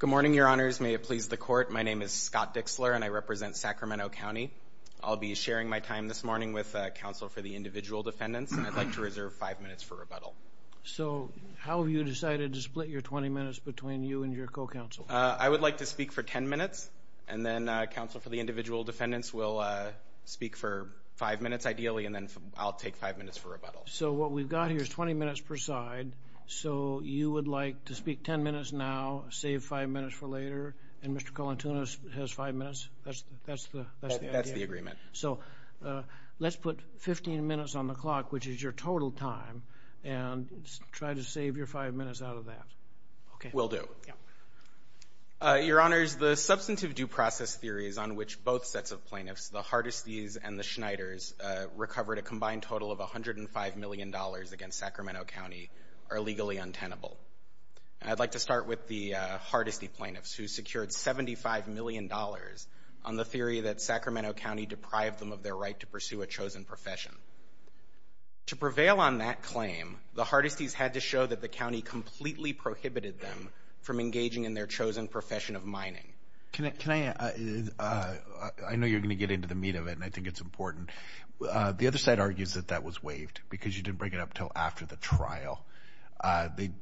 Good morning, your honors. May it please the court, my name is Scott Dixler and I represent Sacramento County. I'll be sharing my time this morning with counsel for the individual defendants and I'd like to reserve five minutes for rebuttal. So how have you decided to split your 20 minutes between you and your co-counsel? I would like to speak for 10 minutes and then counsel for the individual defendants will speak for five minutes ideally and then I'll take five minutes for rebuttal. So what we've got here is 20 minutes per side, so you would like to speak 10 minutes now, save five minutes for later, and Mr. Colantunos has five minutes? That's the idea? That's the agreement. So let's put 15 minutes on the clock, which is your total time, and try to save your five minutes out of that. Okay. Will do. Your honors, the substantive due process theory is on which both sets of plaintiffs, the Hardesty's and the Schneider's, recovered a combined total of $105 million against Sacramento County are legally untenable. I'd like to start with the Hardesty plaintiffs who secured $75 million on the theory that Sacramento County deprived them of their right to pursue a chosen profession. To prevail on that claim, the Hardesty's had to show that the county completely prohibited them from engaging in their chosen profession of mining. Can I, I know you're going to get into the meat of it, and I think it's important. The other side argues that that was waived, because you didn't bring it up until after the trial.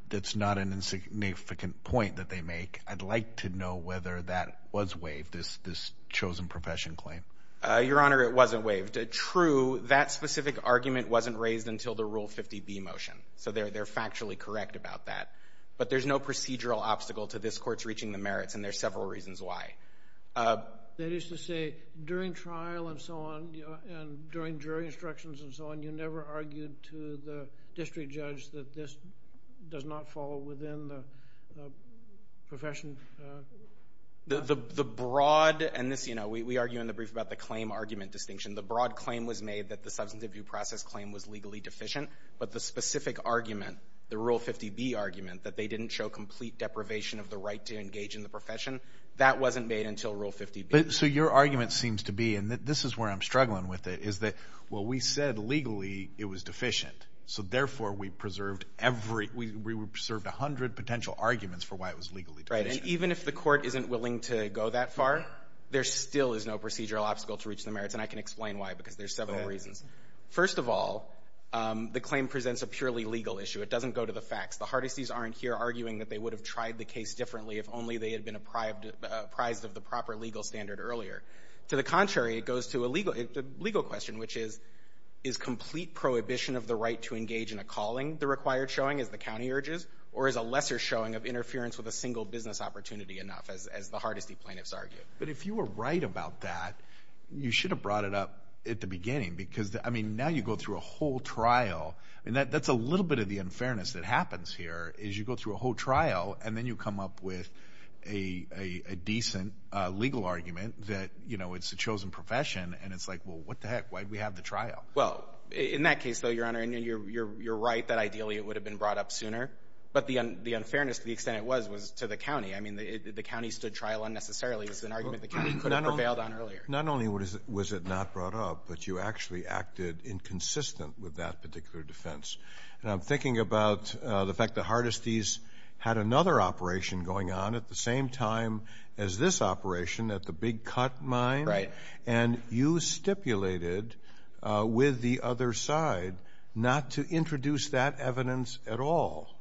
That's not an insignificant point that they make. I'd like to know whether that was waived, this chosen profession claim. Your honor, it wasn't waived. True, that specific argument wasn't raised until the Rule 50B motion, so they're factually correct about that. But there's no procedural obstacle to this court's reaching the merits, and there's several reasons why. That is to say, during trial and so on, and during jury instructions and so on, you never argued to the district judge that this does not fall within the profession? The broad, and this, you know, we argue in the brief about the claim argument distinction. The broad claim was made that the substance abuse process claim was legally deficient, but the specific argument, the Rule 50B argument, that they didn't show complete deprivation of the right to engage in the profession, that wasn't made until Rule 50B. So your argument seems to be, and this is where I'm struggling with it, is that, well, we said legally it was deficient, so therefore we preserved every, we preserved a hundred potential arguments for why it was legally deficient. Right, and even if the court isn't willing to go that far, there still is no procedural obstacle to reaching the merits, and I can explain why, because there's several reasons. First of all, the claim presents a purely legal issue. It doesn't go to the facts. The Hardisees aren't here arguing that they would have tried the case differently if only they had been apprised of the proper legal standard earlier. To the contrary, it goes to a legal question, which is, is complete prohibition of the right to engage in a calling the required showing as the county urges, or is a lesser showing of interference with a single business opportunity enough, as the Hardisee plaintiffs argue? But if you were right about that, you should have brought it up at the beginning, because, I mean, now you go through a whole trial, and that's a little bit of the unfairness that happens here, is you go through a whole a decent legal argument that, you know, it's a chosen profession, and it's like, well, what the heck, why'd we have the trial? Well, in that case, though, Your Honor, and you're right that ideally it would have been brought up sooner, but the unfairness to the extent it was was to the county. I mean, the county stood trial unnecessarily. It was an argument the county could have prevailed on earlier. Not only was it not brought up, but you actually acted inconsistent with that particular defense, and I'm thinking about the fact the Hardisees had another operation going on at the same time as this operation at the Big Cut Mine, and you stipulated with the other side not to introduce that evidence at all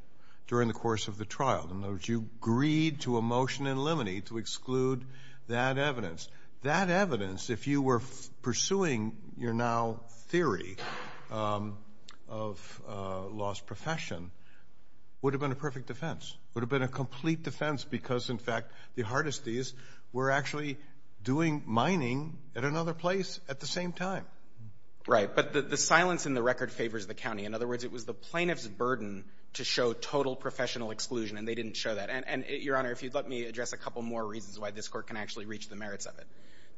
during the course of the trial. In other words, you agreed to a motion in limine to exclude that evidence. That evidence, if you were pursuing your now theory of lost profession, would have been a perfect defense, would have been a complete defense because, in fact, the Hardisees were actually doing mining at another place at the same time. Right, but the silence in the record favors the county. In other words, it was the plaintiff's burden to show total professional exclusion, and they didn't show that. And, Your Honor, if you'd let me address a couple more reasons why this Court can actually reach the merits of it.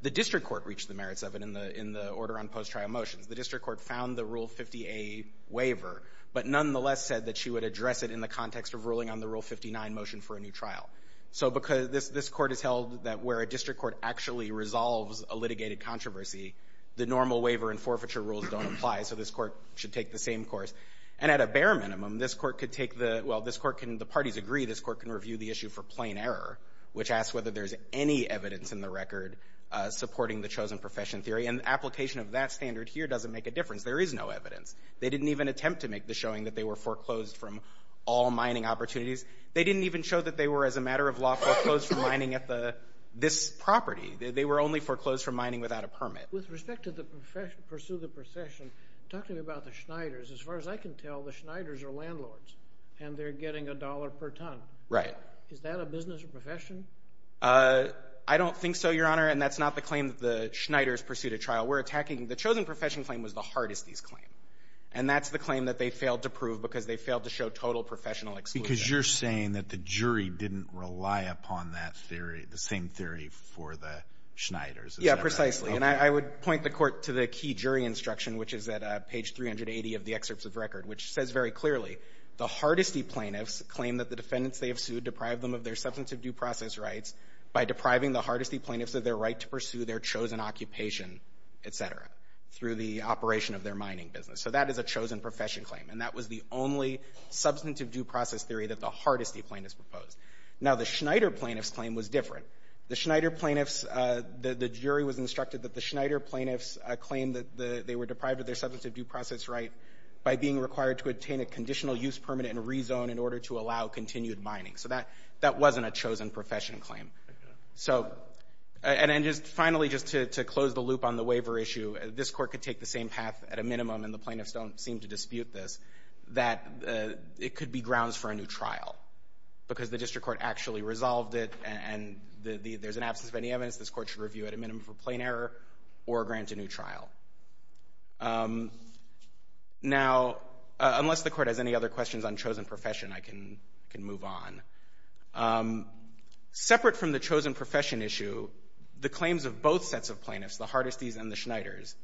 The District Court reached the merits of it in the order on post-trial motions. The District Court found the Rule 50A waiver, but nonetheless said that she would address it in the context of ruling on the Rule 59 motion for a new trial. So because this Court has held that where a District Court actually resolves a litigated controversy, the normal waiver and forfeiture rules don't apply, so this Court should take the same course. And at a bare minimum, this Court could take the—well, this Court can—the parties agree this Court can review the issue for plain error, which asks whether there's any evidence in the record supporting the chosen profession theory. And the application of that standard here doesn't make a difference. There is no evidence. They didn't even attempt to make the showing that they were foreclosed from all mining opportunities. They didn't even show that they were, as a matter of law, foreclosed from mining at the—this property. They were only foreclosed from mining without a permit. With respect to the profession—pursue the profession, talk to me about the Schneiders. As far as I can tell, the Schneiders are landlords, and they're getting a dollar per ton. Right. Is that a business or profession? I don't think so, Your Honor, and that's not the claim that the Schneiders pursued a trial. We're attacking—the chosen profession claim was the hardest of these claims, and that's the claim that they failed to prove because they failed to show total professional exclusion. Because you're saying that the jury didn't rely upon that theory, the same theory for the Schneiders, is that right? Yeah, precisely. And I would point the Court to the key jury instruction, which is at page 380 of the excerpts of record, which says very clearly, the hardesty plaintiffs claim that the defendants they have sued deprived them of their substantive due process rights by depriving the hardesty plaintiffs of their right to pursue their chosen occupation, et cetera, through the operation of their mining business. So that is a chosen profession claim, and that was the only substantive due process theory that the hardesty plaintiffs proposed. Now, the Schneider plaintiffs claim was different. The Schneider plaintiffs—the jury was instructed that the Schneider plaintiffs claimed that they were deprived of their substantive due process right by being required to obtain a conditional use permit and rezone in order to allow continued mining. So that wasn't a chosen profession claim. So—and just finally, just to close the loop on the waiver issue, this Court could take the same path at a minimum, and the plaintiffs don't seem to dispute this, that it could be grounds for a new trial, because the District Court actually resolved it, and there's an absence of any evidence this Court should review at a minimum for plain error or grant a new trial. Now, unless the Court has any other questions on chosen profession, I can move on. Separate from the chosen profession issue, the claims of both sets of plaintiffs, the Hardesty's and the Schneider's,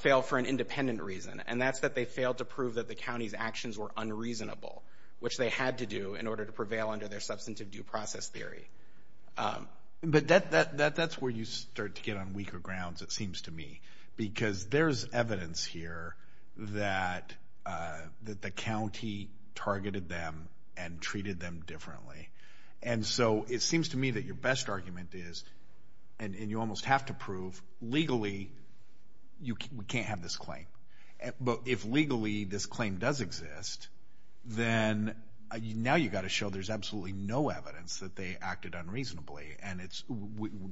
fail for an independent reason, and that's that they failed to prove that the county's actions were unreasonable, which they had to do in order to prevail under their substantive due process theory. But that's where you start to get on weaker grounds, it seems to me, because there's evidence here that the county targeted them and treated them differently. And so it seems to me that your best argument is, and you almost have to prove, legally, we can't have this claim. But if legally this claim does exist, then now you've got to show there's absolutely no evidence that they acted unreasonably. And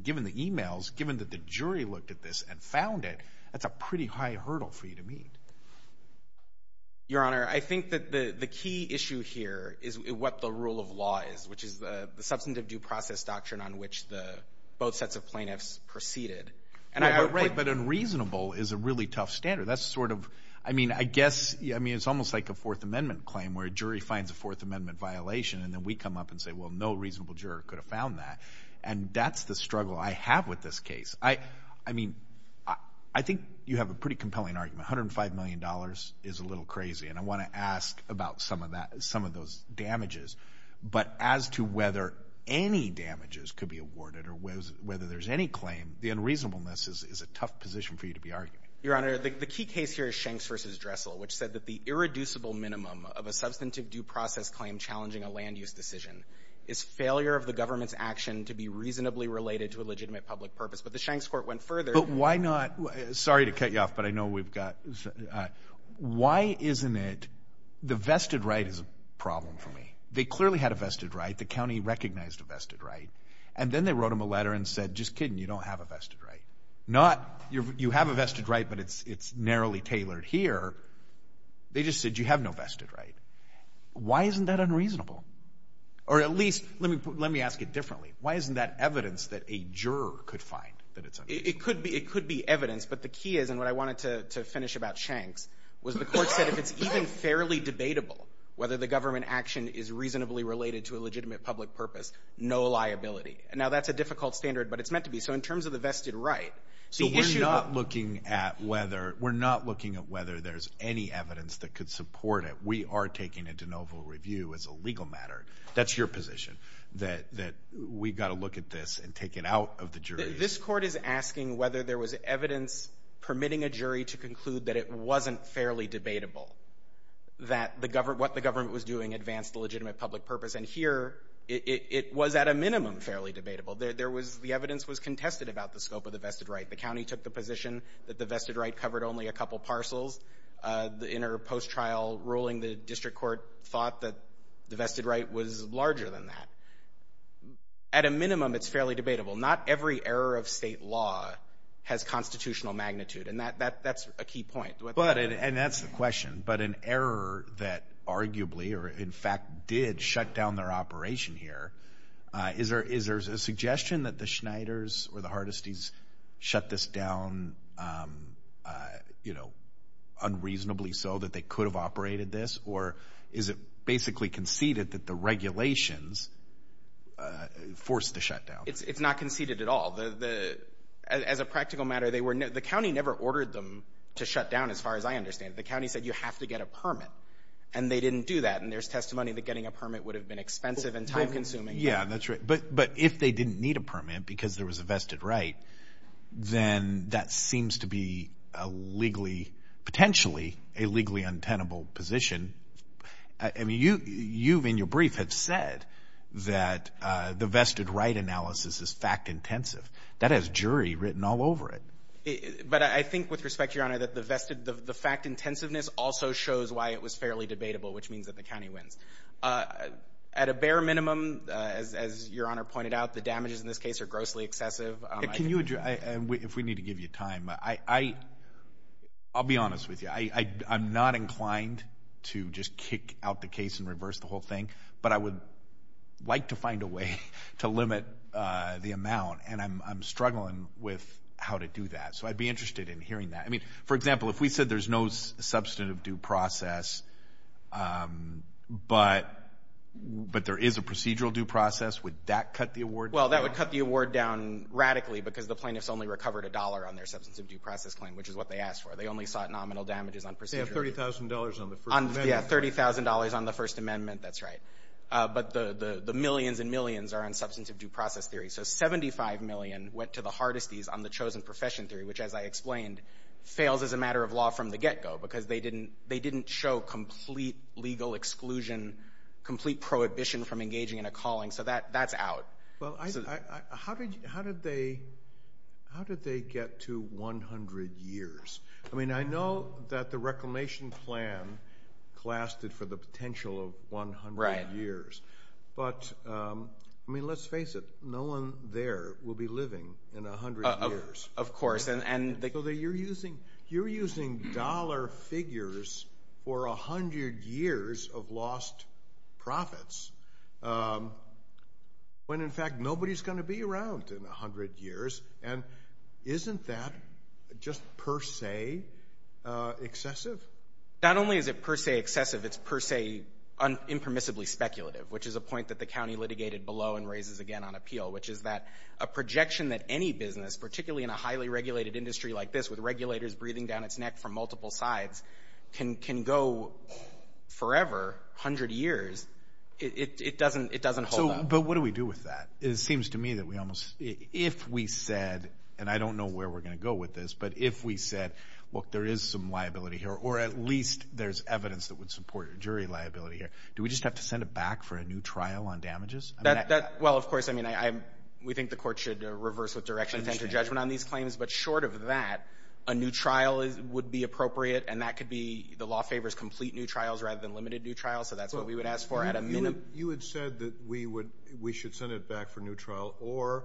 given the emails, given that the jury looked at this and found it, that's a pretty high hurdle for you to meet. Your Honor, I think that the key issue here is what the rule of law is, which is the substantive due process doctrine on which both sets of plaintiffs proceeded. But unreasonable is a really tough standard. That's sort of, I mean, I guess, it's almost like a Fourth Amendment claim, where a jury finds a Fourth Amendment violation, and then we come up and say, well, no reasonable juror could have found that. And that's the struggle I have with this case. I mean, I think you have a pretty compelling argument. $105 million is a little crazy, and I want to ask about some of that, some of those damages. But as to whether any damages could be awarded or whether there's any claim, the unreasonableness is a tough position for you to be arguing. Your Honor, the key case here is Shanks v. Dressel, which said that the irreducible minimum of a substantive due process claim challenging a land use decision is failure of the government's action to be reasonably related to a legitimate public purpose. But the Shanks court went further. But why not, sorry to cut you off, but I know we've got, why isn't it, the vested right is a problem for me. They clearly had a vested right. The county recognized a vested right. And then they wrote him a letter and said, just kidding, you don't have a vested right. Not, you have a vested right, but it's narrowly tailored here. They just said, you have no vested right. Why isn't that unreasonable? Or at least, let me ask it differently. Why isn't that evidence that a juror could find that it's unreasonable? It could be evidence, but the key is, and what I wanted to finish about Shanks, was the court said, if it's even fairly debatable, whether the government action is reasonably related to a legitimate public purpose, no liability. And now that's a difficult standard, but it's meant to be. So in terms of the vested right, so we're not looking at whether, we're not looking at whether there's any evidence that could support it. We are taking a de novo review as a legal matter. That's your position, that we've got to look at this and take it out of the jury. This court is asking whether there was evidence permitting a jury to conclude that it wasn't fairly debatable, that the government, what the government was doing advanced the legitimate public purpose. And here, it was at a minimum fairly debatable. There was, the evidence was contested about the scope of the vested right. The county took the position that the vested right covered only a couple parcels. In her post-trial ruling, the district court thought that the vested right was larger than that. At a minimum, it's fairly debatable. Not every error of state law has constitutional magnitude, and that's a key point. But, and that's the question, but an error that arguably or in fact did shut down their operation here, is there a suggestion that the Schneiders or the Hardesty's shut this down, you know, unreasonably so that they could have operated this? Or is it basically conceded that the regulations forced the shutdown? It's not conceded at all. As a practical matter, they were, the county never ordered them to shut down, as far as I understand it. The county said, you have to get a permit, and they didn't do that. And there's testimony that getting a permit would have been expensive and time-consuming. Yeah, that's right. But, but if they didn't need a permit because there was a vested right, then that seems to be a legally, potentially a legally untenable position. I mean, you, you in your brief have said that the vested right analysis is fact-intensive. That has jury written all over it. But I think with respect, Your Honor, that the vested, the fact-intensiveness also shows why it was fairly debatable, which means that the county wins. At a bare minimum, as Your Honor pointed out, the damages in this case are grossly excessive. Can you, if we need to give you time, I, I'll be honest with you. I, I'm not inclined to just kick out the case and reverse the whole thing, but I would like to find a way to limit the amount, and I'm, I'm struggling with how to do that. So I'd be interested in hearing that. I mean, for example, if we said there's no substantive due process, but, but there is a procedural due process, would that cut the award down? Well, that would cut the award down radically because the plaintiffs only recovered a dollar on their substantive due process claim, which is what they asked for. They only sought nominal damages on procedural. They have $30,000 on the First Amendment. Yeah, $30,000 on the First Amendment. That's right. But the, the, the millions and millions are on substantive due process theory. So $75 million went to the hardesties on the chosen profession theory, which, as I explained, fails as a matter of law from the get-go because they didn't, they didn't show complete legal exclusion, complete prohibition from engaging in a calling. So that, that's out. Well, I, I, I, how did, how did they, how did they get to 100 years? I mean, I know that the reclamation plan classed it for the potential of 100 years, but, I mean, let's face it, no one there will be living in 100 years. Of course. And, and they go, you're using, you're using dollar figures for 100 years of lost profits when, in fact, nobody's going to be around in 100 years. And isn't that just per se excessive? Not only is it per se excessive, it's per se impermissibly speculative, which is a point that the county litigated below and raises again on appeal, which is that a projection that any business, particularly in a highly regulated industry like this, with regulators breathing down its neck from multiple sides, can, can go forever, 100 years, it, it doesn't, it doesn't hold up. But what do we do with that? It seems to me that we almost, if we said, and I don't know where we're going to go with this, but if we said, look, there is some liability here, or at least there's evidence that would support jury liability here, do we just have to send it back for a new trial on damages? That, that, well, of course, I mean, I, I'm, we think the court should reverse with direction to enter judgment on these claims, but short of that, a new trial is, would be appropriate, and that could be, the law favors complete new trials rather than limited new trials, so that's what we would ask for at a minimum. You had said that we would, we should send it back for new trial or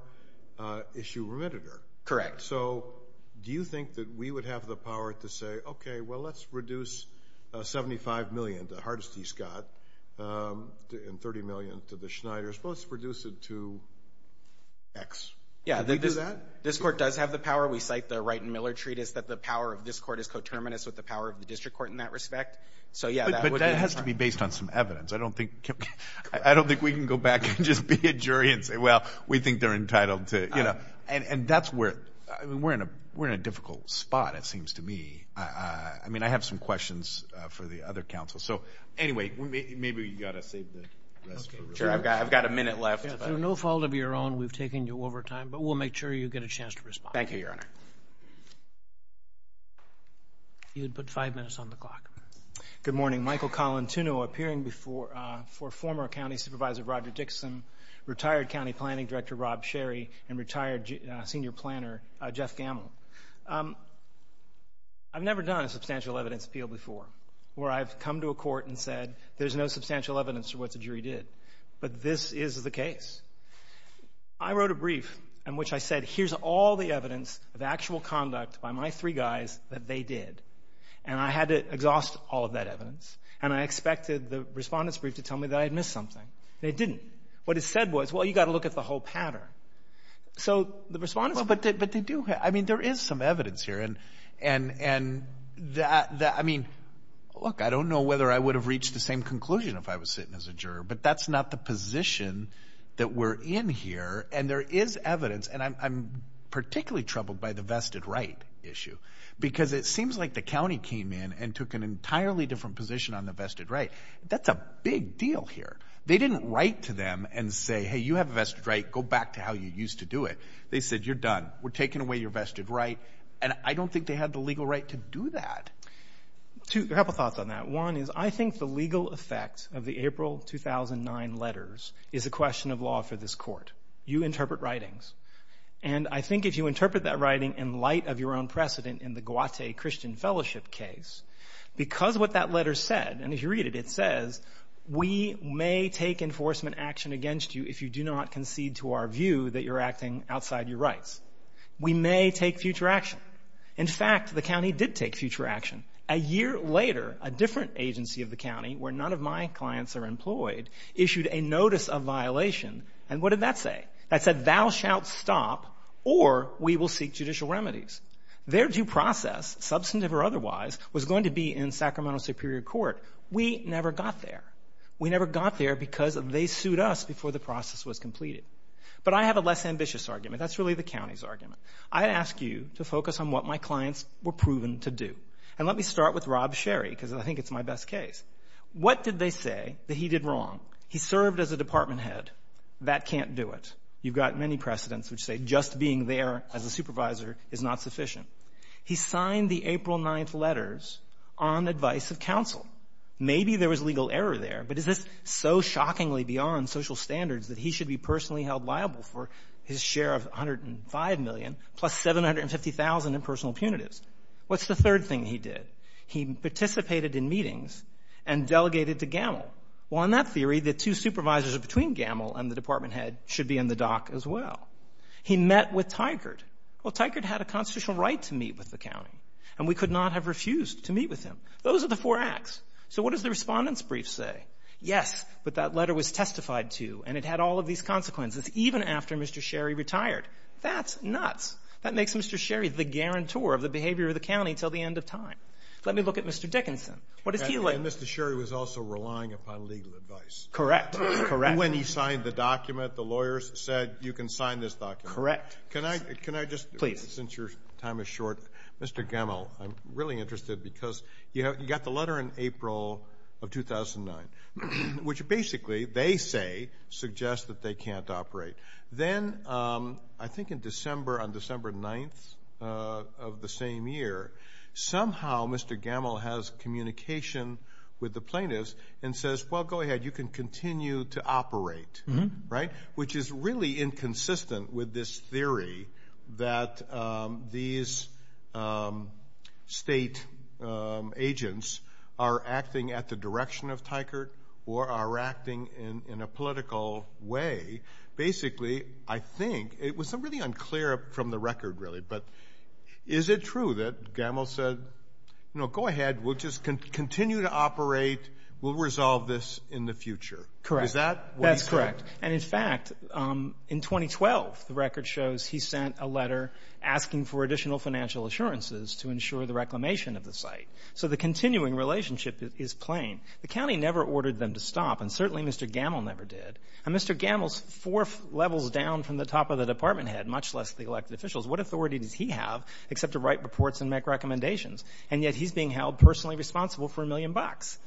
issue remitted her. Correct. So, do you think that we would have the power to say, okay, well, let's reduce $75 million to Hardesty Scott, and $30 million to the Schneiders, well, let's reduce it to X. Yeah, this, this court does have the power, we cite the Wright and Miller Treatise that the power of this court is coterminous with the power of the district court in that respect, so yeah, that would be. But, but that has to be based on some evidence, I don't think, I don't think we can go back and just be a jury and say, well, we think they're entitled to, you know, and, and that's where, I mean, we're in a, we're in a difficult spot, it seems to me, I, I, I mean, I have some questions for the other counsel, so anyway, maybe you've got to save the rest for later. Sure, I've got, I've got a minute left. If it's no fault of your own, we've taken you over time, but we'll make sure you get a chance to respond. Thank you, Your Honor. You had put five minutes on the clock. Good morning, Michael Collin, Tuneau, appearing before, for former County Supervisor Roger Dixon, retired County Planning Director Rob Sherry, and retired Senior Planner Jeff Gamble. I've never done a substantial evidence appeal before where I've come to a court and said there's no substantial evidence for what the jury did, but this is the case. I wrote a brief in which I said, here's all the evidence of actual conduct by my three guys that they did, and I had to exhaust all of that evidence, and I expected the respondent's to tell me that I had missed something, and they didn't. What it said was, well, you've got to look at the whole pattern. So the respondent's... But they do, I mean, there is some evidence here, and that, I mean, look, I don't know whether I would have reached the same conclusion if I was sitting as a juror, but that's not the position that we're in here, and there is evidence, and I'm particularly troubled by the vested right issue, because it seems like the county came in and took an entirely different position on the vested right. That's a big deal here. They didn't write to them and say, hey, you have a vested right, go back to how you used to do it. They said, you're done. We're taking away your vested right, and I don't think they had the legal right to do that. Two... A couple thoughts on that. One is, I think the legal effect of the April 2009 letters is a question of law for this court. You interpret writings, and I think if you interpret that writing in light of your own precedent in the Guate Christian Fellowship case, because what that letter said, and if you read it, it says, we may take enforcement action against you if you do not concede to our view that you're acting outside your rights. We may take future action. In fact, the county did take future action. A year later, a different agency of the county, where none of my clients are employed, issued a notice of violation, and what did that say? That said, thou shalt stop, or we will seek judicial remedies. Their due process, substantive or otherwise, was going to be in Sacramento Superior Court. We never got there. We never got there because they sued us before the process was completed, but I have a less ambitious argument. That's really the county's argument. I ask you to focus on what my clients were proven to do, and let me start with Rob Sherry, because I think it's my best case. What did they say that he did wrong? He served as a department head. That can't do it. You've got many precedents which say just being there as a supervisor is not sufficient. He signed the April 9th letters on advice of counsel. Maybe there was legal error there, but is this so shockingly beyond social standards that he should be personally held liable for his share of $105 million, plus $750,000 in personal punitives? What's the third thing he did? He participated in meetings and delegated to GAML. Well, in that theory, the two supervisors between GAML and the department head should be in the dock as well. He met with Tygert. Well, Tygert had a constitutional right to meet with the county, and we could not have refused to meet with him. Those are the four acts. So what does the respondent's brief say? Yes, but that letter was testified to, and it had all of these consequences, even after Mr. Sherry retired. That's nuts. That makes Mr. Sherry the guarantor of the behavior of the county until the end of time. Let me look at Mr. Dickinson. What does he like? And Mr. Sherry was also relying upon legal advice. Correct. Correct. When he signed the document, the lawyers said, you can sign this document. Correct. Can I just, since your time is short, Mr. GAML, I'm really interested because you got the letter in April of 2009, which basically they say suggests that they can't operate. Then I think in December, on December 9th of the same year, somehow Mr. GAML has communication with the plaintiffs and says, well, go ahead, you can continue to operate, which is really consistent with this theory that these state agents are acting at the direction of Tykert or are acting in a political way. Basically, I think, it was really unclear from the record really, but is it true that GAML said, go ahead, we'll just continue to operate, we'll resolve this in the future? Correct. Is that what he said? That's correct. And in fact, in 2012, the record shows he sent a letter asking for additional financial assurances to ensure the reclamation of the site. So the continuing relationship is plain. The county never ordered them to stop, and certainly Mr. GAML never did. And Mr. GAML is four levels down from the top of the department head, much less the elected officials. What authority does he have except to write reports and make recommendations? And yet he's being held personally responsible for a million bucks.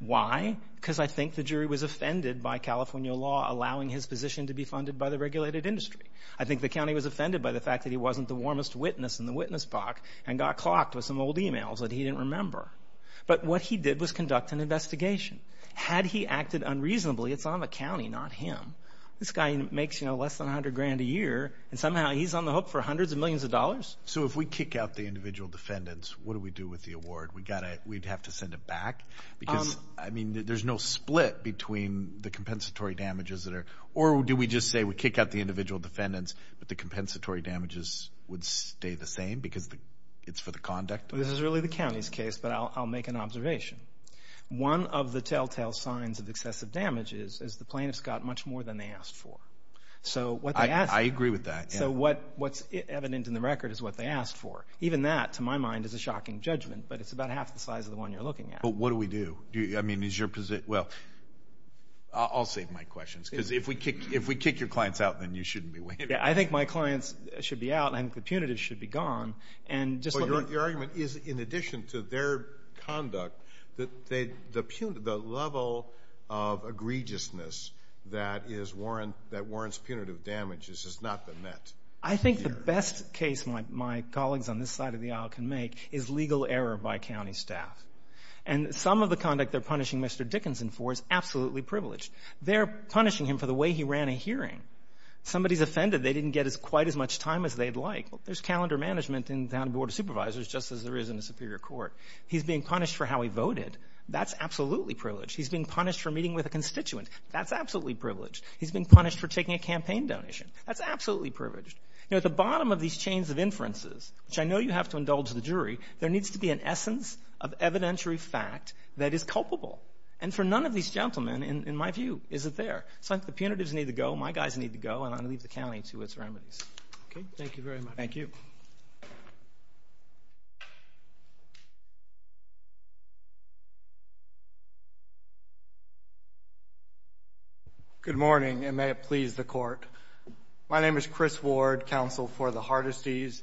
Why? Because I think the jury was offended by California law allowing his position to be funded by the regulated industry. I think the county was offended by the fact that he wasn't the warmest witness in the witness box and got clocked with some old emails that he didn't remember. But what he did was conduct an investigation. Had he acted unreasonably, it's on the county, not him. This guy makes less than 100 grand a year, and somehow he's on the hook for hundreds of millions of dollars. We'd have to send it back because, I mean, there's no split between the compensatory damages that are, or do we just say we kick out the individual defendants, but the compensatory damages would stay the same because it's for the conduct? This is really the county's case, but I'll make an observation. One of the telltale signs of excessive damage is the plaintiffs got much more than they asked for. So what they asked for. I agree with that. So what's evident in the record is what they asked for. Even that, to my mind, is a shocking judgment, but it's about half the size of the one you're looking at. But what do we do? I mean, is your position, well, I'll save my questions because if we kick your clients out, then you shouldn't be waiting. Yeah, I think my clients should be out, and I think the punitive should be gone. And just let me- But your argument is, in addition to their conduct, the level of egregiousness that warrants punitive damage has just not been met. I think the best case my colleagues on this side of the aisle can make is legal error by county staff. And some of the conduct they're punishing Mr. Dickinson for is absolutely privileged. They're punishing him for the way he ran a hearing. Somebody's offended they didn't get quite as much time as they'd like. There's calendar management in town board of supervisors, just as there is in a superior court. He's being punished for how he voted. That's absolutely privileged. He's being punished for meeting with a constituent. That's absolutely privileged. He's being punished for taking a campaign donation. That's absolutely privileged. You know, at the bottom of these chains of inferences, which I know you have to indulge the jury, there needs to be an essence of evidentiary fact that is culpable. And for none of these gentlemen, in my view, is it there. So I think the punitives need to go, my guys need to go, and I'm going to leave the county to its remedies. Okay. Thank you very much. Thank you. Good morning, and may it please the court. My name is Chris Ward, counsel for the Hardesty's.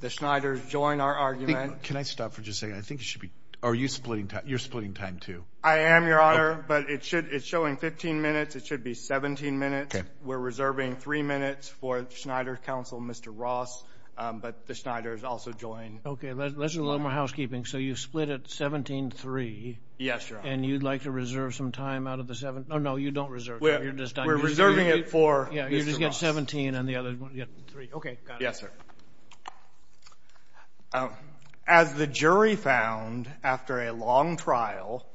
The Schneiders join our argument. Can I stop for just a second? I think it should be, are you splitting time, you're splitting time too. I am, your honor, but it should, it's showing 15 minutes, it should be 17 minutes. Okay. We're reserving three minutes for Schneider's counsel, Mr. Ross, but the Schneiders also join. Okay. Let's do a little more housekeeping. So you split at 17-3. Yes, your honor. And you'd like to reserve some time out of the seven, oh no, you don't reserve time, you're just done. We're reserving it for Mr. Ross. Yeah, you just get 17 and the other one, you get three. Okay. Got it. Yes, sir. As the jury found after a long trial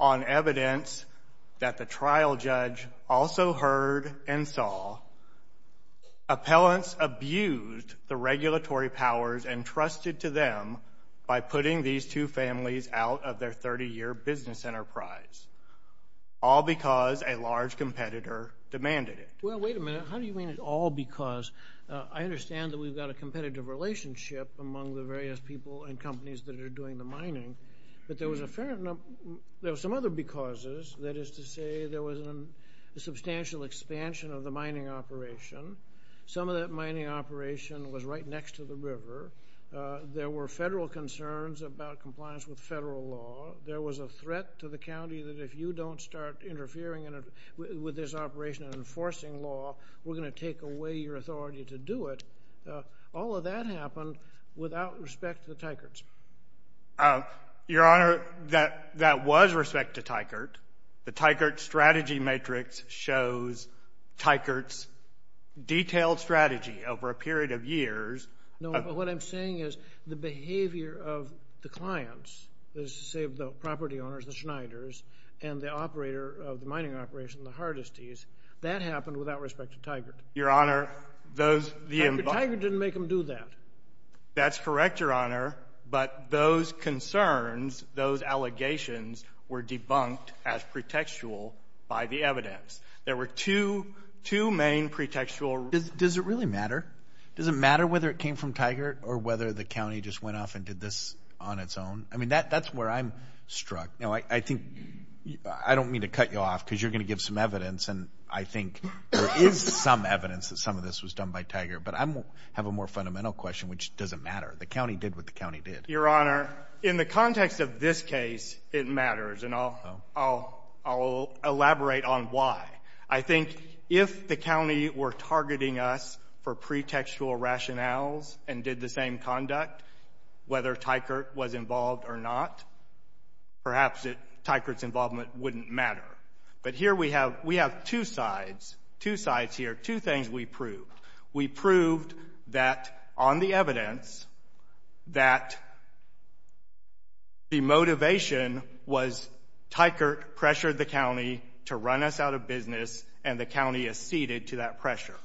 on evidence that the trial judge also heard and saw, appellants abused the regulatory powers entrusted to them by putting these two families out of their 30-year business enterprise, all because a large competitor demanded it. Well, wait a minute. How do you mean it's all because? I understand that we've got a competitive relationship among the various people and companies that are doing the mining, but there was a fair amount, there were some other becauses, that is to say there was a substantial expansion of the mining operation. Some of that mining operation was right next to the river. There were federal concerns about compliance with federal law. There was a threat to the county that if you don't start interfering with this operation and enforcing law, we're going to take away your authority to do it. All of that happened without respect to the Teicherts. Your Honor, that was respect to Teichert. The Teichert strategy matrix shows Teichert's detailed strategy over a period of years. No, but what I'm saying is the behavior of the clients, that is to say the property owners, the Schneiders, and the operator of the mining operation, the Hardesty's, that happened without respect to Teichert. Your Honor, those... Teichert didn't make them do that. That's correct, Your Honor, but those concerns, those allegations were debunked as pretextual by the evidence. There were two main pretextual... Does it really matter? Does it matter whether it came from Teichert or whether the county just went off and did this on its own? I mean, that's where I'm struck. I think, I don't mean to cut you off, because you're going to give some evidence, and I think there is some evidence that some of this was done by Teichert, but I have a more fundamental question, which doesn't matter. The county did what the county did. Your Honor, in the context of this case, it matters, and I'll elaborate on why. I think if the county were targeting us for pretextual rationales and did the same conduct, whether Teichert was involved or not, perhaps Teichert's involvement wouldn't matter. But here we have two sides, two sides here, two things we proved. We proved that on the evidence that the motivation was Teichert pressured the county to run us out of business, and the county acceded to that pressure.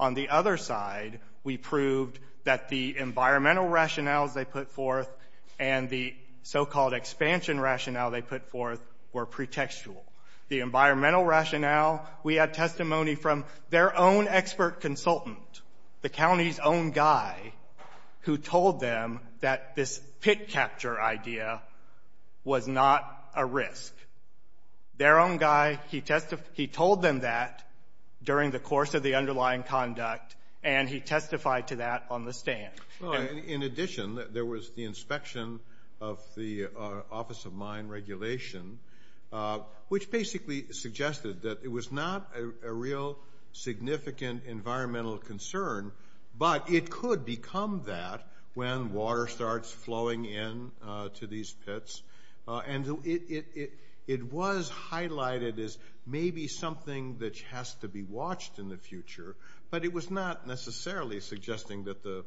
On the other side, we proved that the environmental rationales they put forth and the so-called expansion rationale they put forth were pretextual. The environmental rationale, we had testimony from their own expert consultant, the county's own guy, who told them that this pit capture idea was not a risk. Their own guy, he told them that during the course of the underlying conduct, and he testified to that on the stand. In addition, there was the inspection of the Office of Mine Regulation, which basically suggested that it was not a real significant environmental concern, but it could become that when water starts flowing into these pits. It was highlighted as maybe something that has to be watched in the future, but it was not necessarily suggesting that the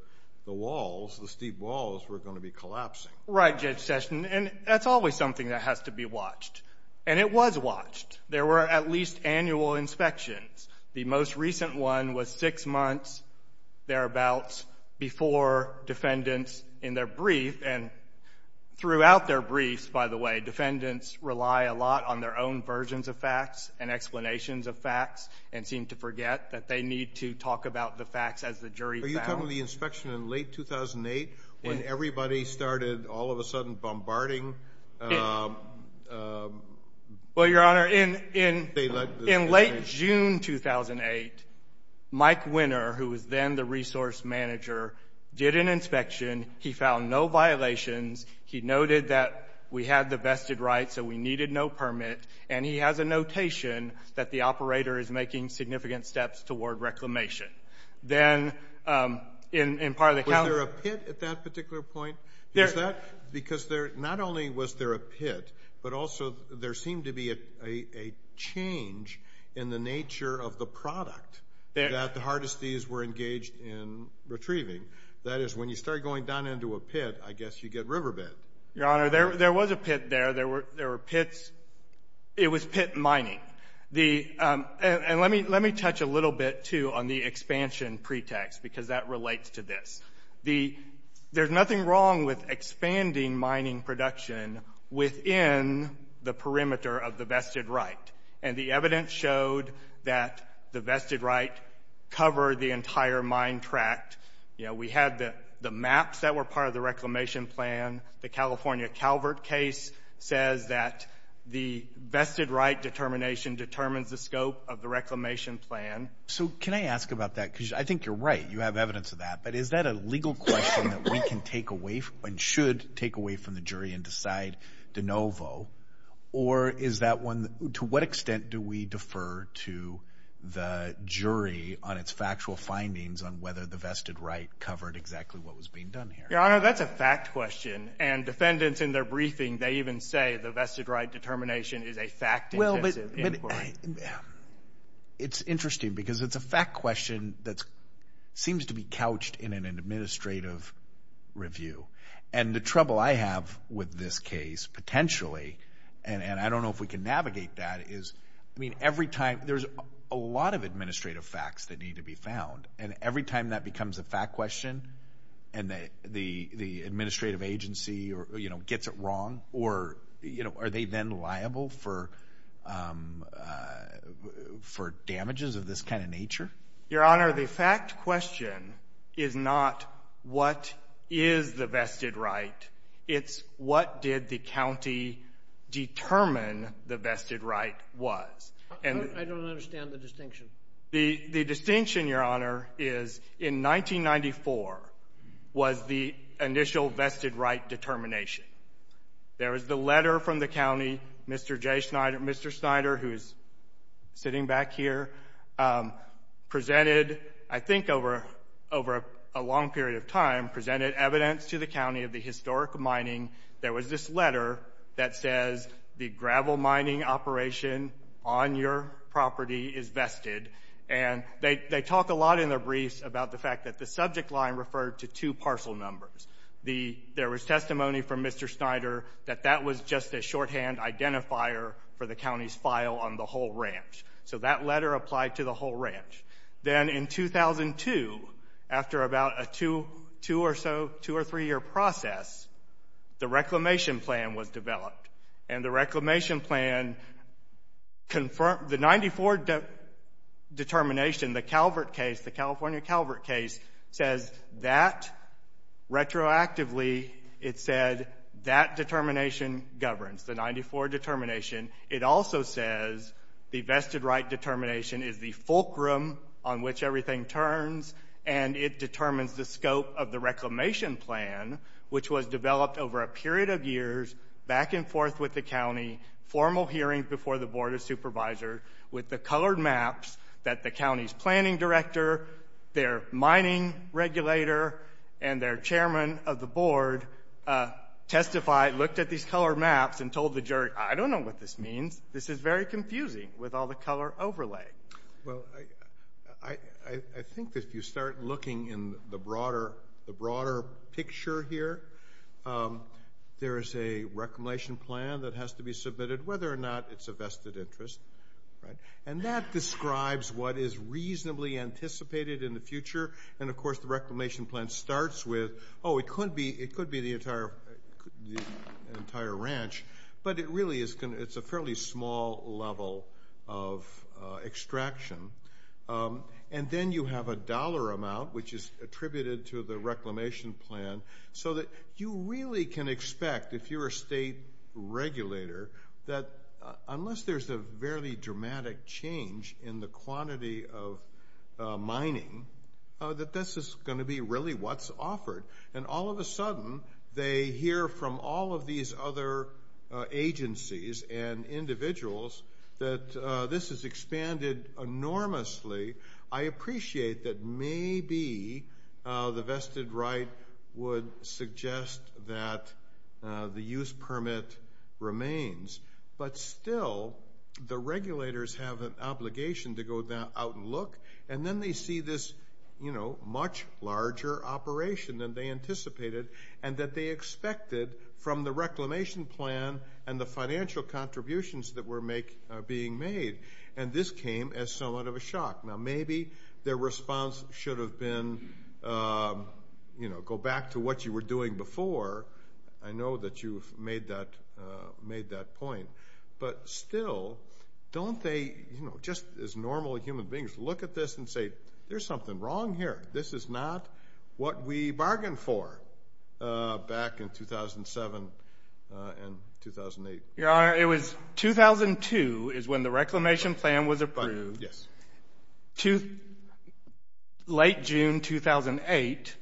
walls, the steep walls, were going to be collapsing. Right, Judge Session. That's always something that has to be watched, and it was watched. There were at least annual inspections. The most recent one was six months, thereabouts, before defendants, in their brief, and throughout their briefs, by the way, defendants rely a lot on their own versions of facts and explanations of facts, and seem to forget that they need to talk about the facts as the jury found them. Are you talking about the inspection in late 2008, when everybody started all of a sudden bombarding the jury? Well, Your Honor, in late June 2008, Mike Winner, who was then the resource manager, did an inspection. He found no violations. He noted that we had the vested rights, so we needed no permit, and he has a notation that the operator is making significant steps toward reclamation. Then in part of the counsel— Was there a pit at that particular point? Is that because not only was there a pit, but also there seemed to be a change in the nature of the product that the Hardesty's were engaged in retrieving. That is, when you start going down into a pit, I guess you get riverbed. Your Honor, there was a pit there. It was pit mining. Let me touch a little bit, too, on the expansion pretext, because that relates to this. There's nothing wrong with expanding mining production within the perimeter of the vested right, and the evidence showed that the vested right covered the entire mine tract. We had the maps that were part of the reclamation plan. The California Calvert case says that the vested right determination determines the scope of the reclamation plan. Can I ask about that? I think you're right. You have evidence of that, but is that a legal question that we can take away and should take away from the jury and decide de novo, or to what extent do we defer to the jury on its factual findings on whether the vested right covered exactly what was being done here? Your Honor, that's a fact question, and defendants in their briefing, they even say the vested right determination is a fact-intensive inquiry. It's interesting, because it's a fact question that seems to be couched in an administrative review, and the trouble I have with this case, potentially, and I don't know if we can navigate that, is there's a lot of administrative facts that need to be found, and every time that becomes a fact question, and the administrative agency gets it wrong, are they then liable for damages of this kind of nature? Your Honor, the fact question is not what is the vested right. It's what did the county determine the vested right was. I don't understand the distinction. The distinction, Your Honor, is in 1994 was the initial vested right determination. There was the letter from the county, Mr. J. Schneider, Mr. Schneider, who is sitting back here, presented, I think over a long period of time, presented evidence to the county of the historic mining. There was this letter that says the gravel mining operation on your property is vested, and they talk a lot in their briefs about the fact that the subject line referred to two parcel numbers. The, there was testimony from Mr. Schneider that that was just a shorthand identifier for the county's file on the whole ranch. So that letter applied to the whole ranch. Then in 2002, after about a two or so, two or three year process, the reclamation plan was developed, and the reclamation plan, the 94 determination, the Calvert case, the California retroactively, it said that determination governs, the 94 determination. It also says the vested right determination is the fulcrum on which everything turns, and it determines the scope of the reclamation plan, which was developed over a period of years, back and forth with the county, formal hearings before the board of supervisors, with the colored maps that the county's planning director, their mining regulator, and their chairman of the board testified, looked at these colored maps and told the jury, I don't know what this means. This is very confusing with all the color overlay. Well, I think that if you start looking in the broader picture here, there is a reclamation plan that has to be submitted, whether or not it's a vested interest, right? And that describes what is reasonably anticipated in the future, and of course, the reclamation plan starts with, oh, it could be the entire ranch, but it really is a fairly small level of extraction. And then you have a dollar amount, which is attributed to the reclamation plan, so that you really can expect, if you're a state regulator, that unless there's a very dramatic change in the quantity of mining, that this is going to be really what's offered. And all of a sudden, they hear from all of these other agencies and individuals that this has expanded enormously. I appreciate that maybe the vested right would suggest that the use permit remains, but still, the regulators have an obligation to go out and look, and then they see this much larger operation than they anticipated, and that they expected from the reclamation plan and the financial contributions that were being made. And this came as somewhat of a shock. Now, maybe their response should have been, go back to what you were doing before. I know that you've made that point, but still, don't they, just as normal human beings, look at this and say, there's something wrong here. This is not what we bargained for back in 2007 and 2008. Your Honor, it was 2002 is when the reclamation plan was approved. Yes. Late June 2008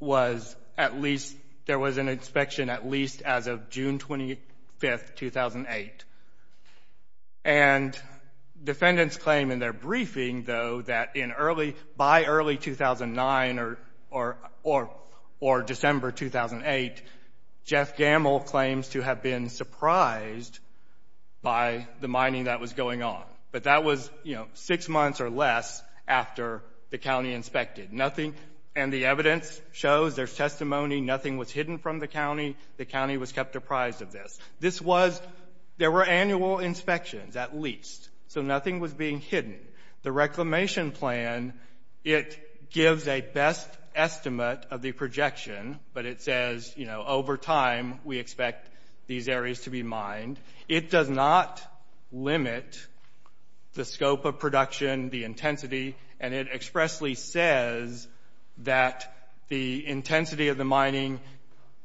was at least, there was an inspection at least as of June 25, 2008. And defendants claim in their briefing, though, that by early 2009 or December 2008, Jeff Gamble claims to have been surprised by the mining that was going on. But that was, you know, six months or less after the county inspected. And the evidence shows, there's testimony, nothing was hidden from the county. The county was kept apprised of this. This was, there were annual inspections at least, so nothing was being hidden. The reclamation plan, it gives a best estimate of the projection, but it says, you know, over time, we expect these areas to be mined. It does not limit the scope of production, the intensity. And it expressly says that the intensity of the mining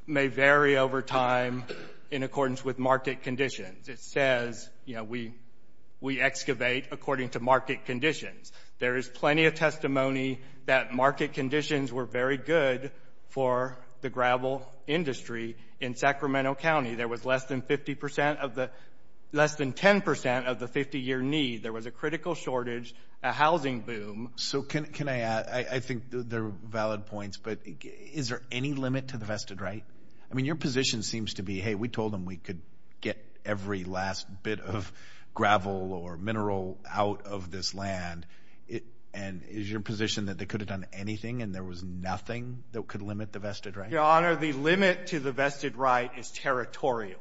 may vary over time in accordance with market conditions. It says, you know, we excavate according to market conditions. There is plenty of testimony that market conditions were very good for the gravel industry in Sacramento County. There was less than 50% of the, less than 10% of the 50-year need. There was a critical shortage, a housing boom. So can I add, I think they're valid points, but is there any limit to the vested right? I mean, your position seems to be, hey, we told them we could get every last bit of gravel or mineral out of this land. And is your position that they could have done anything and there was nothing that could limit the vested right? Your Honor, the limit to the vested right is territorial.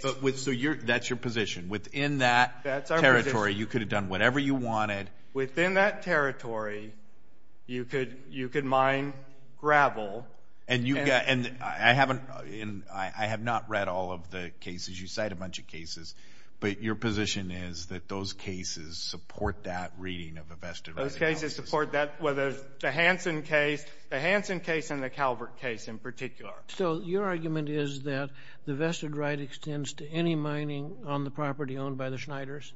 So that's your position. Within that territory, you could have done whatever you wanted. Within that territory, you could mine gravel. And I have not read all of the cases. You cite a bunch of cases, but your position is that those cases support that reading of a vested right? Those cases support that. Whether it's the Hansen case, the Hansen case and the Calvert case in particular. So your argument is that the vested right extends to any mining on the property owned by the Schneiders?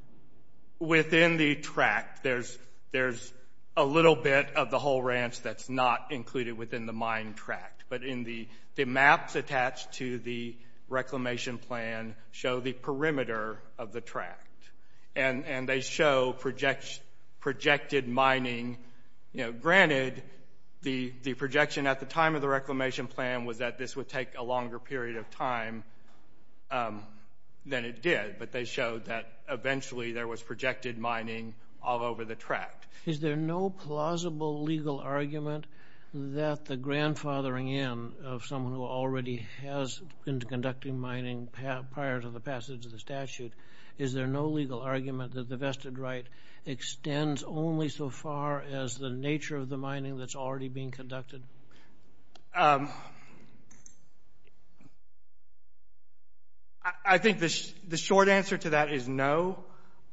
Within the tract, there's a little bit of the whole ranch that's not included within the mine tract. But in the maps attached to the reclamation plan show the perimeter of the tract. And they show projected mining. Granted, the projection at the time of the reclamation plan was that this would take a longer period of time than it did. But they showed that eventually there was projected mining all over the tract. Is there no plausible legal argument that the grandfathering in of someone who already has been conducting mining prior to the passage of the statute, is there no legal argument that the vested right extends only so far as the nature of the mining that's already being conducted? I think the short answer to that is no.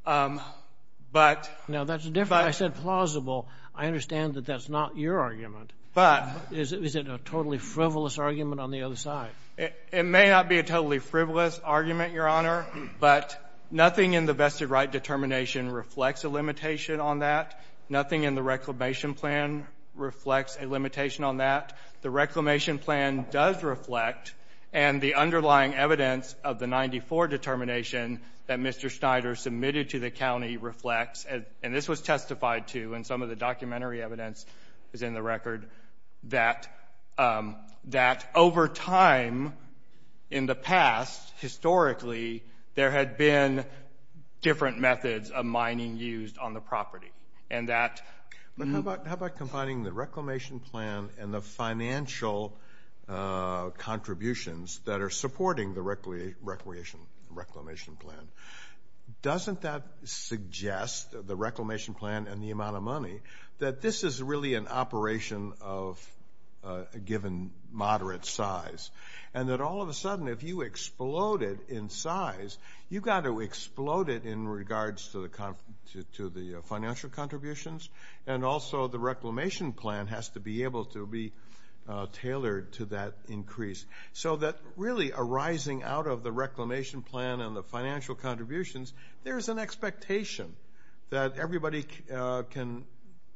But Now that's different. I said plausible. I understand that that's not your argument. But Is it a totally frivolous argument on the other side? It may not be a totally frivolous argument, Your Honor, but nothing in the vested right determination reflects a limitation on that. Nothing in the reclamation plan reflects a limitation on that. The reclamation plan does reflect, and the underlying evidence of the 94 determination that Mr. Schneider submitted to the county reflects, and this was testified to in some of the documentary evidence that's in the record, that over time in the past, historically, there had been different methods of mining used on the property. And that But how about combining the reclamation plan and the financial contributions that are supporting the reclamation plan? Doesn't that suggest, the reclamation plan and the amount of money, that this is really an operation of a given moderate size? And that all of a sudden, if you explode it in size, you've got to explode it in regards to the financial contributions, and also the reclamation plan has to be able to be tailored to that increase. So that really arising out of the reclamation plan and the financial contributions, there's an expectation that everybody can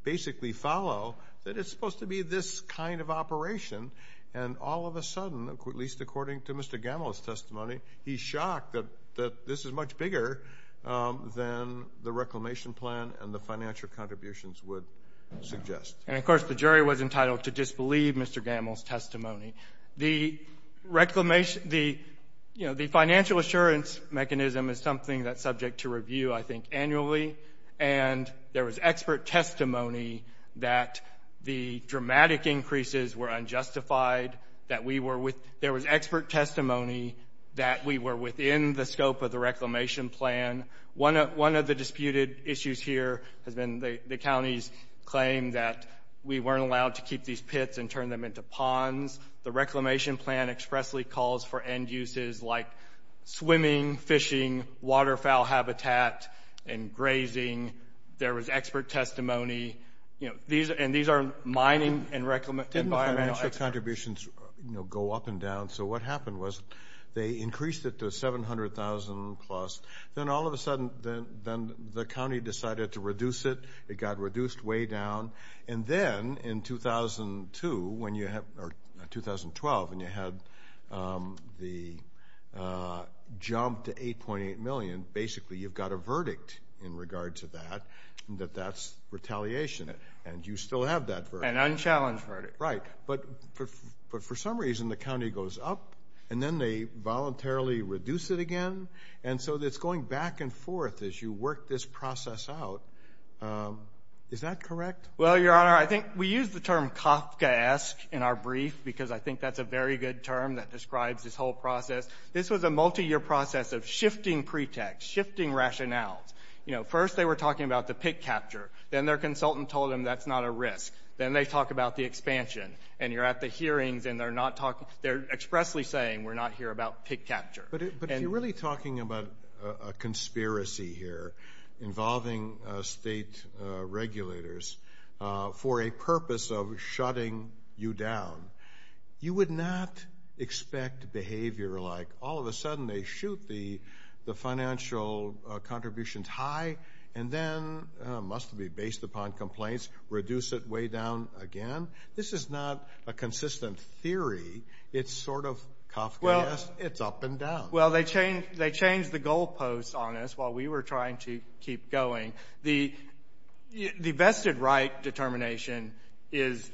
basically follow that it's supposed to be this kind of operation, and all of a sudden, at least according to Mr. Gamble's testimony, he's shocked that this is much bigger than the reclamation plan and the financial contributions would suggest. And of course, the jury was entitled to disbelieve Mr. Gamble's testimony. The financial assurance mechanism is something that's subject to review, I think, annually. And there was expert testimony that the dramatic increases were unjustified, that we were with – there was expert testimony that we were within the scope of the reclamation plan. One of the disputed issues here has been the county's claim that we weren't allowed to keep these pits and turn them into ponds. The reclamation plan expressly calls for end uses like swimming, fishing, waterfowl habitat, and grazing. There was expert testimony. And these are mining and environmental experts. Didn't the financial contributions go up and down? So what happened was they increased it to 700,000 plus. Then all of a sudden, then the county decided to reduce it. It got reduced way down. And then in 2002, when you – or 2012, when you had the jump to 8.8 million, basically you've got a verdict in regard to that, that that's retaliation. And you still have that verdict. An unchallenged verdict. Right. But for some reason, the county goes up and then they voluntarily reduce it again. And so it's going back and forth as you work this process out. Is that correct? Well, Your Honor, I think we use the term Kafkaesque in our brief because I think that's a very good term that describes this whole process. This was a multiyear process of shifting pretext, shifting rationales. You know, first they were talking about the pit capture. Then their consultant told them that's not a risk. Then they talk about the expansion. And you're at the hearings and they're not talking – they're expressly saying we're not here about pit capture. But if you're really talking about a conspiracy here involving state regulators for a purpose of shutting you down, you would not expect behavior like all of a sudden they shoot the financial contributions high and then, must be based upon complaints, reduce it way down again. This is not a consistent theory. It's sort of Kafkaesque. It's up and down. Well, they changed the goalposts on us while we were trying to keep going. The vested right determination is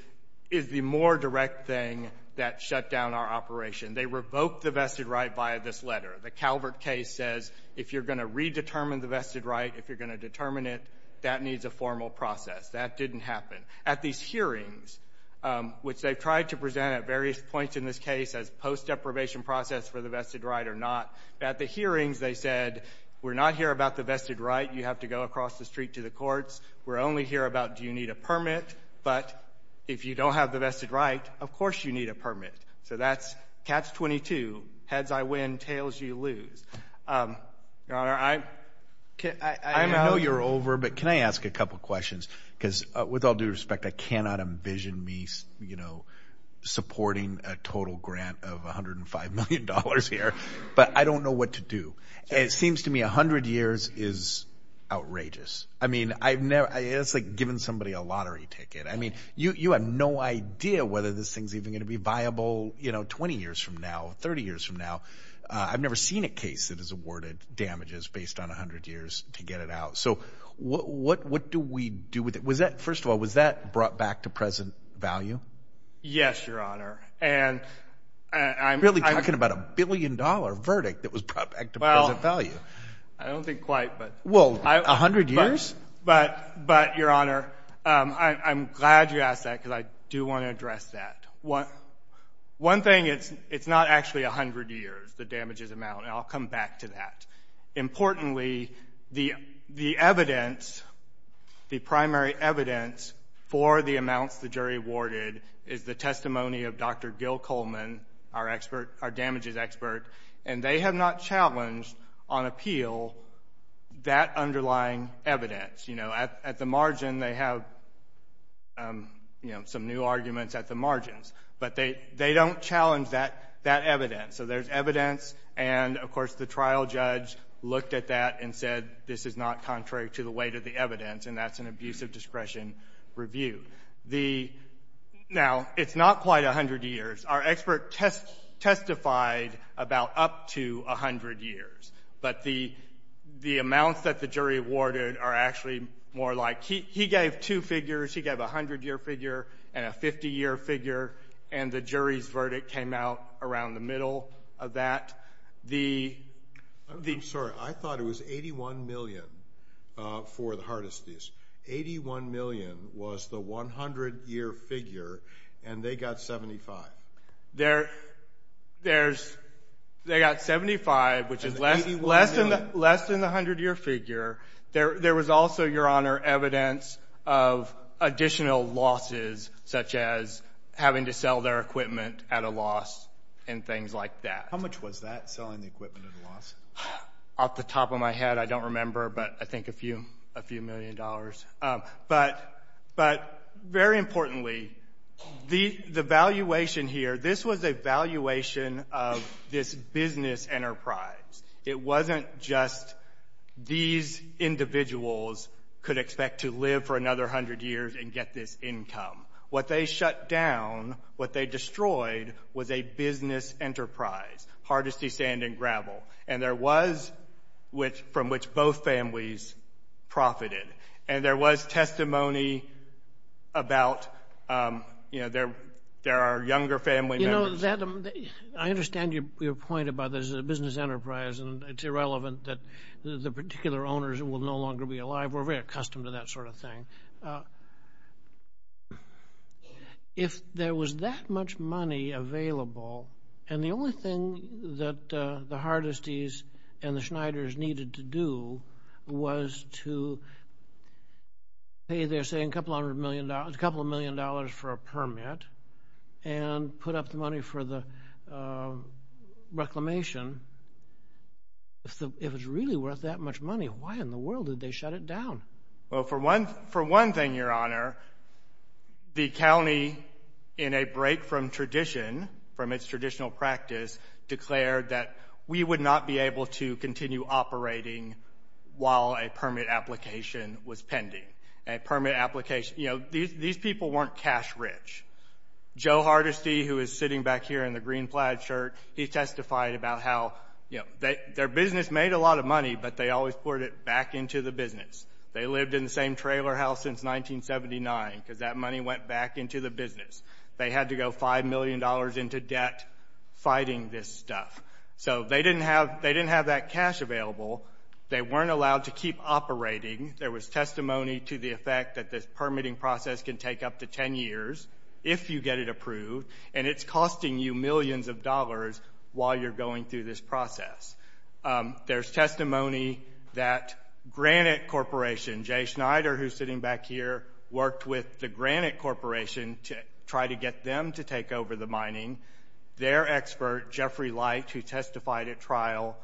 the more direct thing that shut down our operation. They revoked the vested right via this letter. The Calvert case says if you're going to redetermine the vested right, if you're going to determine it, that needs a formal process. That didn't happen. At these hearings, which they've tried to present at various points in this case as a post-deprivation process for the vested right or not, at the hearings they said we're not here about the vested right. You have to go across the street to the courts. We're only here about do you need a permit. But if you don't have the vested right, of course you need a permit. So that's catch-22. Heads I win, tails you lose. Your Honor, I – I know you're over, but can I ask a couple questions because with all due respect, I cannot envision me supporting a total grant of $105 million here. But I don't know what to do. It seems to me 100 years is outrageous. I mean, I've never – it's like giving somebody a lottery ticket. I mean, you have no idea whether this thing's even going to be viable 20 years from now, 30 years from now. I've never seen a case that is awarded damages based on 100 years to get it out. So what do we do with it? Was that – first of all, was that brought back to present value? Yes, Your Honor. And I'm – You're really talking about a billion-dollar verdict that was brought back to present value. I don't think quite, but – Well, 100 years? But Your Honor, I'm glad you asked that because I do want to address that. One thing, it's not actually 100 years the damages amount, and I'll come back to that. Importantly, the evidence, the primary evidence for the amounts the jury awarded is the testimony of Dr. Gil Coleman, our expert, our damages expert. And they have not challenged on appeal that underlying evidence. You know, at the margin, they have, you know, some new arguments at the margins. But they don't challenge that evidence. So there's evidence, and of course, the trial judge looked at that and said, this is not contrary to the weight of the evidence, and that's an abuse of discretion review. The – now, it's not quite 100 years. Our expert testified about up to 100 years. But the amounts that the jury awarded are actually more like – he gave two figures. He gave a 100-year figure and a 50-year figure, and the jury's verdict came out around the middle of that. The – I'm sorry. I thought it was 81 million for the hardest case. Eighty-one million was the 100-year figure, and they got 75. There's – they got 75, which is less than the 100-year figure. There was also, Your Honor, evidence of additional losses, such as having to sell their equipment at a loss and things like that. How much was that, selling the equipment at a loss? Off the top of my head, I don't remember, but I think a few – a few million dollars. But very importantly, the valuation here – this was a valuation of this business enterprise. It wasn't just these individuals could expect to live for another 100 years and get this income. What they shut down, what they destroyed, was a business enterprise, hard as sea, sand, and gravel. And there was – from which both families profited. And there was testimony about, you know, there are younger family members – You know, that – I understand your point about there's a business enterprise, and it's irrelevant that the particular owners will no longer be alive. We're very accustomed to that sort of thing. If there was that much money available, and the only thing that the Hardesty's and the Schneider's needed to do was to pay their – say, a couple hundred million – a couple million dollars for a permit and put up the money for the reclamation, if it was really worth that much money, why in the world did they shut it down? Well, for one thing, Your Honor, the county, in a break from tradition, from its traditional practice, declared that we would not be able to continue operating while a permit application was pending. A permit application – you know, these people weren't cash rich. Joe Hardesty, who is sitting back here in the green plaid shirt, he testified about how, you know, their business made a lot of money, but they always poured it back into the business. They lived in the same trailer house since 1979, because that money went back into the business. They had to go $5 million into debt fighting this stuff. So they didn't have that cash available. They weren't allowed to keep operating. There was testimony to the effect that this permitting process can take up to 10 years, if you get it approved, and it's costing you millions of dollars while you're going through this process. There's testimony that Granite Corporation, Jay Schneider, who's sitting back here, worked with the Granite Corporation to try to get them to take over the mining. Their expert, Jeffrey Light, who testified at trial,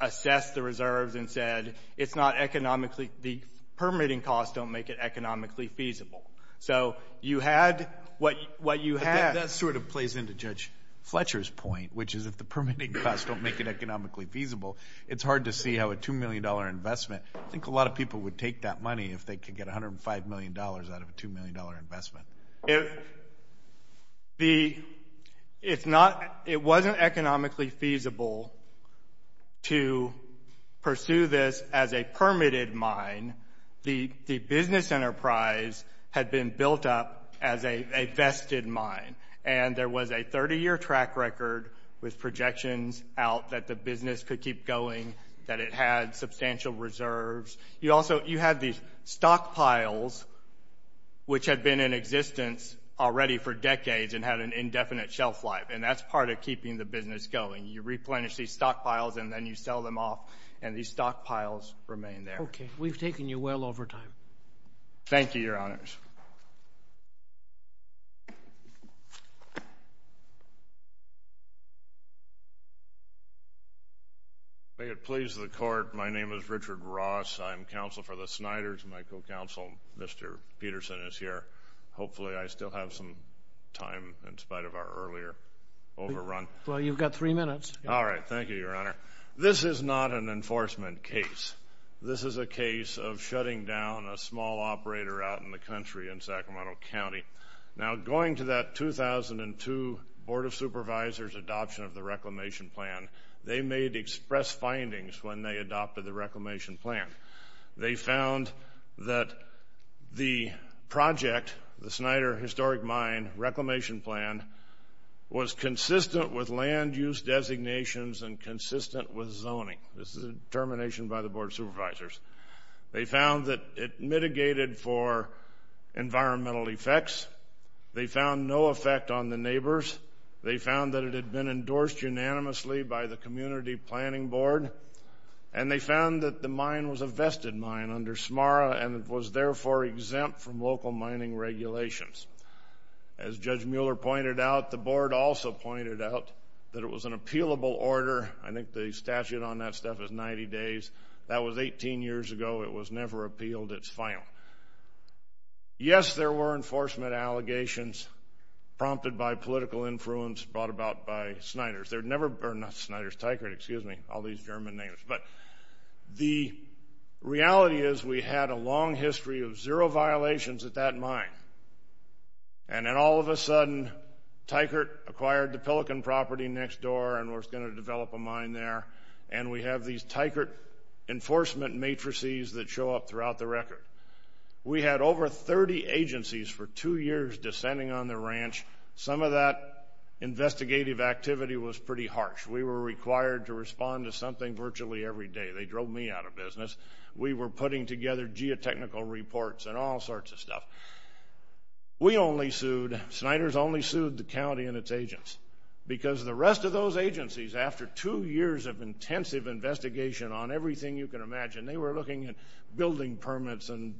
assessed the reserves and said, it's not economically – the permitting costs don't make it economically feasible. So you had – what you had – But that sort of plays into Judge Fletcher's point, which is if the permitting costs don't make it economically feasible, it's hard to see how a $2 million investment – I think a lot of people would take that money if they could get $105 million out of a $2 million investment. If the – it's not – it wasn't economically feasible to pursue this as a permitted mine. The business enterprise had been built up as a vested mine, and there was a 30-year track record with projections out that the business could keep going, that it had substantial reserves. You also – you had these stockpiles, which had been in existence already for decades and had an indefinite shelf life, and that's part of keeping the business going. You replenish these stockpiles, and then you sell them off, and these stockpiles remain there. Okay. We've taken you well over time. Thank you, Your Honors. May it please the Court, my name is Richard Ross. I'm counsel for the Snyders, and my co-counsel, Mr. Peterson, is here. Hopefully I still have some time in spite of our earlier overrun. Well, you've got three minutes. All right. Thank you, Your Honor. This is not an enforcement case. This is a case of shutting down a small operator out in the country in Sacramento County. Now going to that 2002 Board of Supervisors adoption of the reclamation plan, they made express findings when they adopted the reclamation plan. They found that the project, the Snyder Historic Mine reclamation plan, was consistent with land use designations and consistent with zoning. This is a determination by the Board of Supervisors. They found that it mitigated for environmental effects. They found no effect on the neighbors. They found that it had been endorsed unanimously by the Community Planning Board. And they found that the mine was a vested mine under SMARA, and it was therefore exempt from local mining regulations. As Judge Mueller pointed out, the Board also pointed out that it was an appealable order. I think the statute on that stuff is 90 days. That was 18 years ago. It was never appealed. It's final. Yes, there were enforcement allegations prompted by political influence brought about by Snyder's. They're never – or not Snyder's, Teichert, excuse me, all these German names. But the reality is we had a long history of zero violations at that mine. And then all of a sudden, Teichert acquired the Pelican property next door and was going to develop a mine there. And we have these Teichert enforcement matrices that show up throughout the record. We had over 30 agencies for two years descending on the ranch. Some of that investigative activity was pretty harsh. We were required to respond to something virtually every day. They drove me out of business. We were putting together geotechnical reports and all sorts of stuff. We only sued – Snyder's only sued the county and its agents because the rest of those agencies, after two years of intensive investigation on everything you can imagine, they were looking at building permits and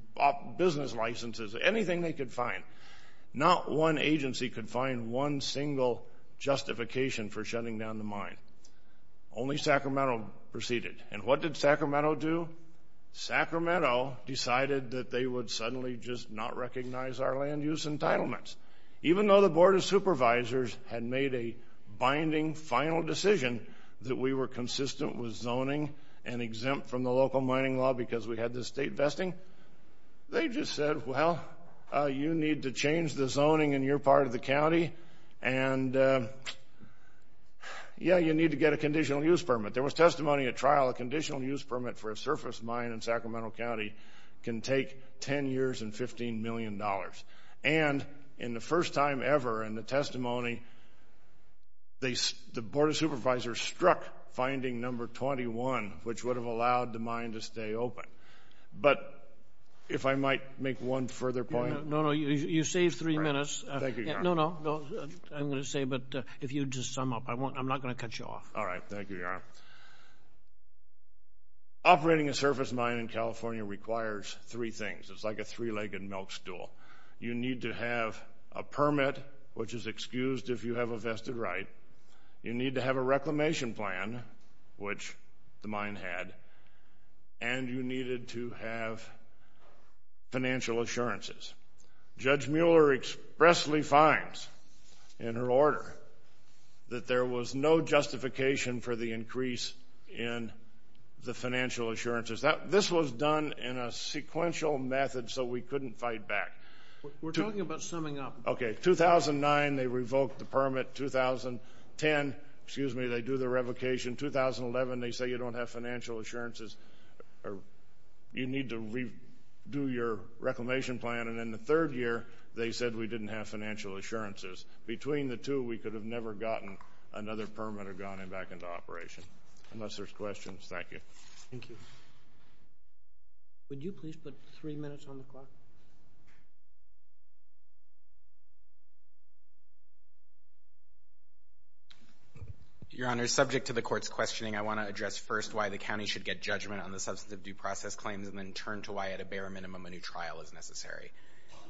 business licenses, anything they could find. Not one agency could find one single justification for shutting down the mine. Only Sacramento proceeded. And what did Sacramento do? Sacramento decided that they would suddenly just not recognize our land use entitlements. Even though the Board of Supervisors had made a binding, final decision that we were consistent with zoning and exempt from the local mining law because we had this state vesting, they just said, well, you need to change the zoning in your part of the county and yeah, you need to get a conditional use permit. There was testimony at trial, a conditional use permit for a surface mine in Sacramento County can take 10 years and $15 million. And in the first time ever in the testimony, the Board of Supervisors struck finding number 21, which would have allowed the mine to stay open. But if I might make one further point. No, no, you saved three minutes. Thank you, Your Honor. No, no, I'm going to say, but if you just sum up, I'm not going to cut you off. All right. Thank you, Your Honor. Operating a surface mine in California requires three things. It's like a three-legged milk stool. You need to have a permit, which is excused if you have a vested right. You need to have a reclamation plan, which the mine had. And you needed to have financial assurances. Judge Mueller expressly finds in her order that there was no justification for the increase in the financial assurances. This was done in a sequential method, so we couldn't fight back. We're talking about summing up. Okay. 2009, they revoked the permit. 2010, excuse me, they do the revocation. 2011, they say you don't have financial assurances. You need to redo your reclamation plan. And then the third year, they said we didn't have financial assurances. Between the two, we could have never gotten another permit or gone back into operation. Unless there's questions. Thank you. Thank you. Would you please put three minutes on the clock? Your Honor, subject to the court's questioning, I want to address first why the county should get judgment on the substantive due process claims and then turn to why at a bare minimum a new trial is necessary.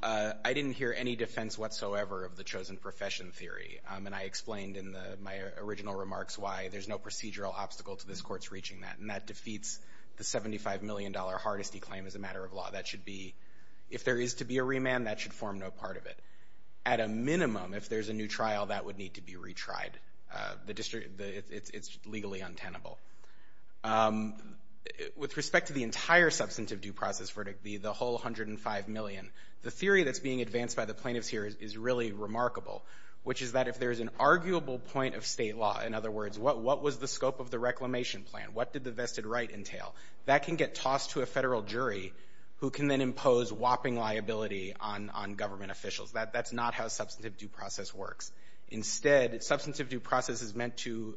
I didn't hear any defense whatsoever of the chosen profession theory. And I explained in my original remarks why there's no procedural obstacle to this court's claim that defeats the $75 million hardesty claim as a matter of law. If there is to be a remand, that should form no part of it. At a minimum, if there's a new trial, that would need to be retried. It's legally untenable. With respect to the entire substantive due process verdict, the whole $105 million, the theory that's being advanced by the plaintiffs here is really remarkable, which is that if there's an arguable point of state law, in other words, what was the scope of the reclamation plan? What did the vested right entail? That can get tossed to a federal jury, who can then impose whopping liability on government officials. That's not how substantive due process works. Instead, substantive due process is meant to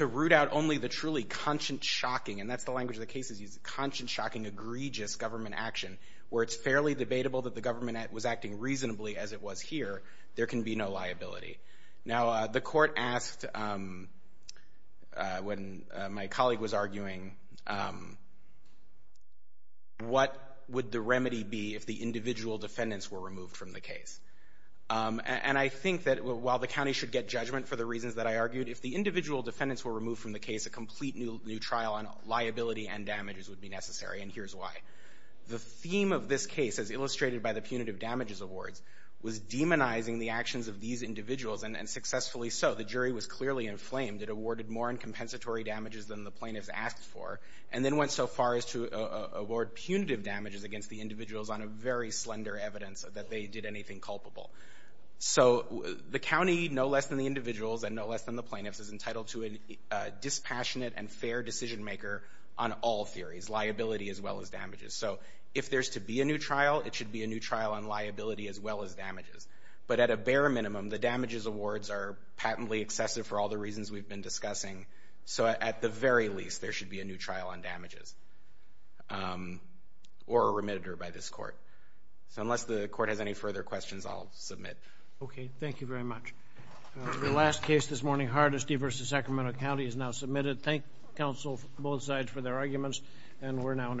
root out only the truly conscience-shocking and that's the language of the case, is conscience-shocking, egregious government action, where it's fairly debatable that the government was acting reasonably as it was here. There can be no liability. Now, the court asked, when my colleague was arguing, what would the remedy be if the individual defendants were removed from the case? And I think that while the county should get judgment for the reasons that I argued, if the individual defendants were removed from the case, a complete new trial on liability and damages would be necessary, and here's why. The theme of this case, as illustrated by the Punitive Damages Awards, was demonizing the actions of these individuals, and successfully so. The jury was clearly inflamed. It awarded more uncompensatory damages than the plaintiffs asked for, and then went so far as to award punitive damages against the individuals on a very slender evidence that they did anything culpable. So the county, no less than the individuals and no less than the plaintiffs, is entitled to a dispassionate and fair decision-maker on all theories, liability as well as damages. So if there's to be a new trial, it should be a new trial on liability as well as damages. But at a bare minimum, the damages awards are patently excessive for all the reasons we've been discussing. So at the very least, there should be a new trial on damages, or remitted by this court. So unless the court has any further questions, I'll submit. Okay. Thank you very much. The last case this morning, Hardesty v. Sacramento County, is now submitted. Thank counsel, both sides, for their arguments, and we're now in adjournment.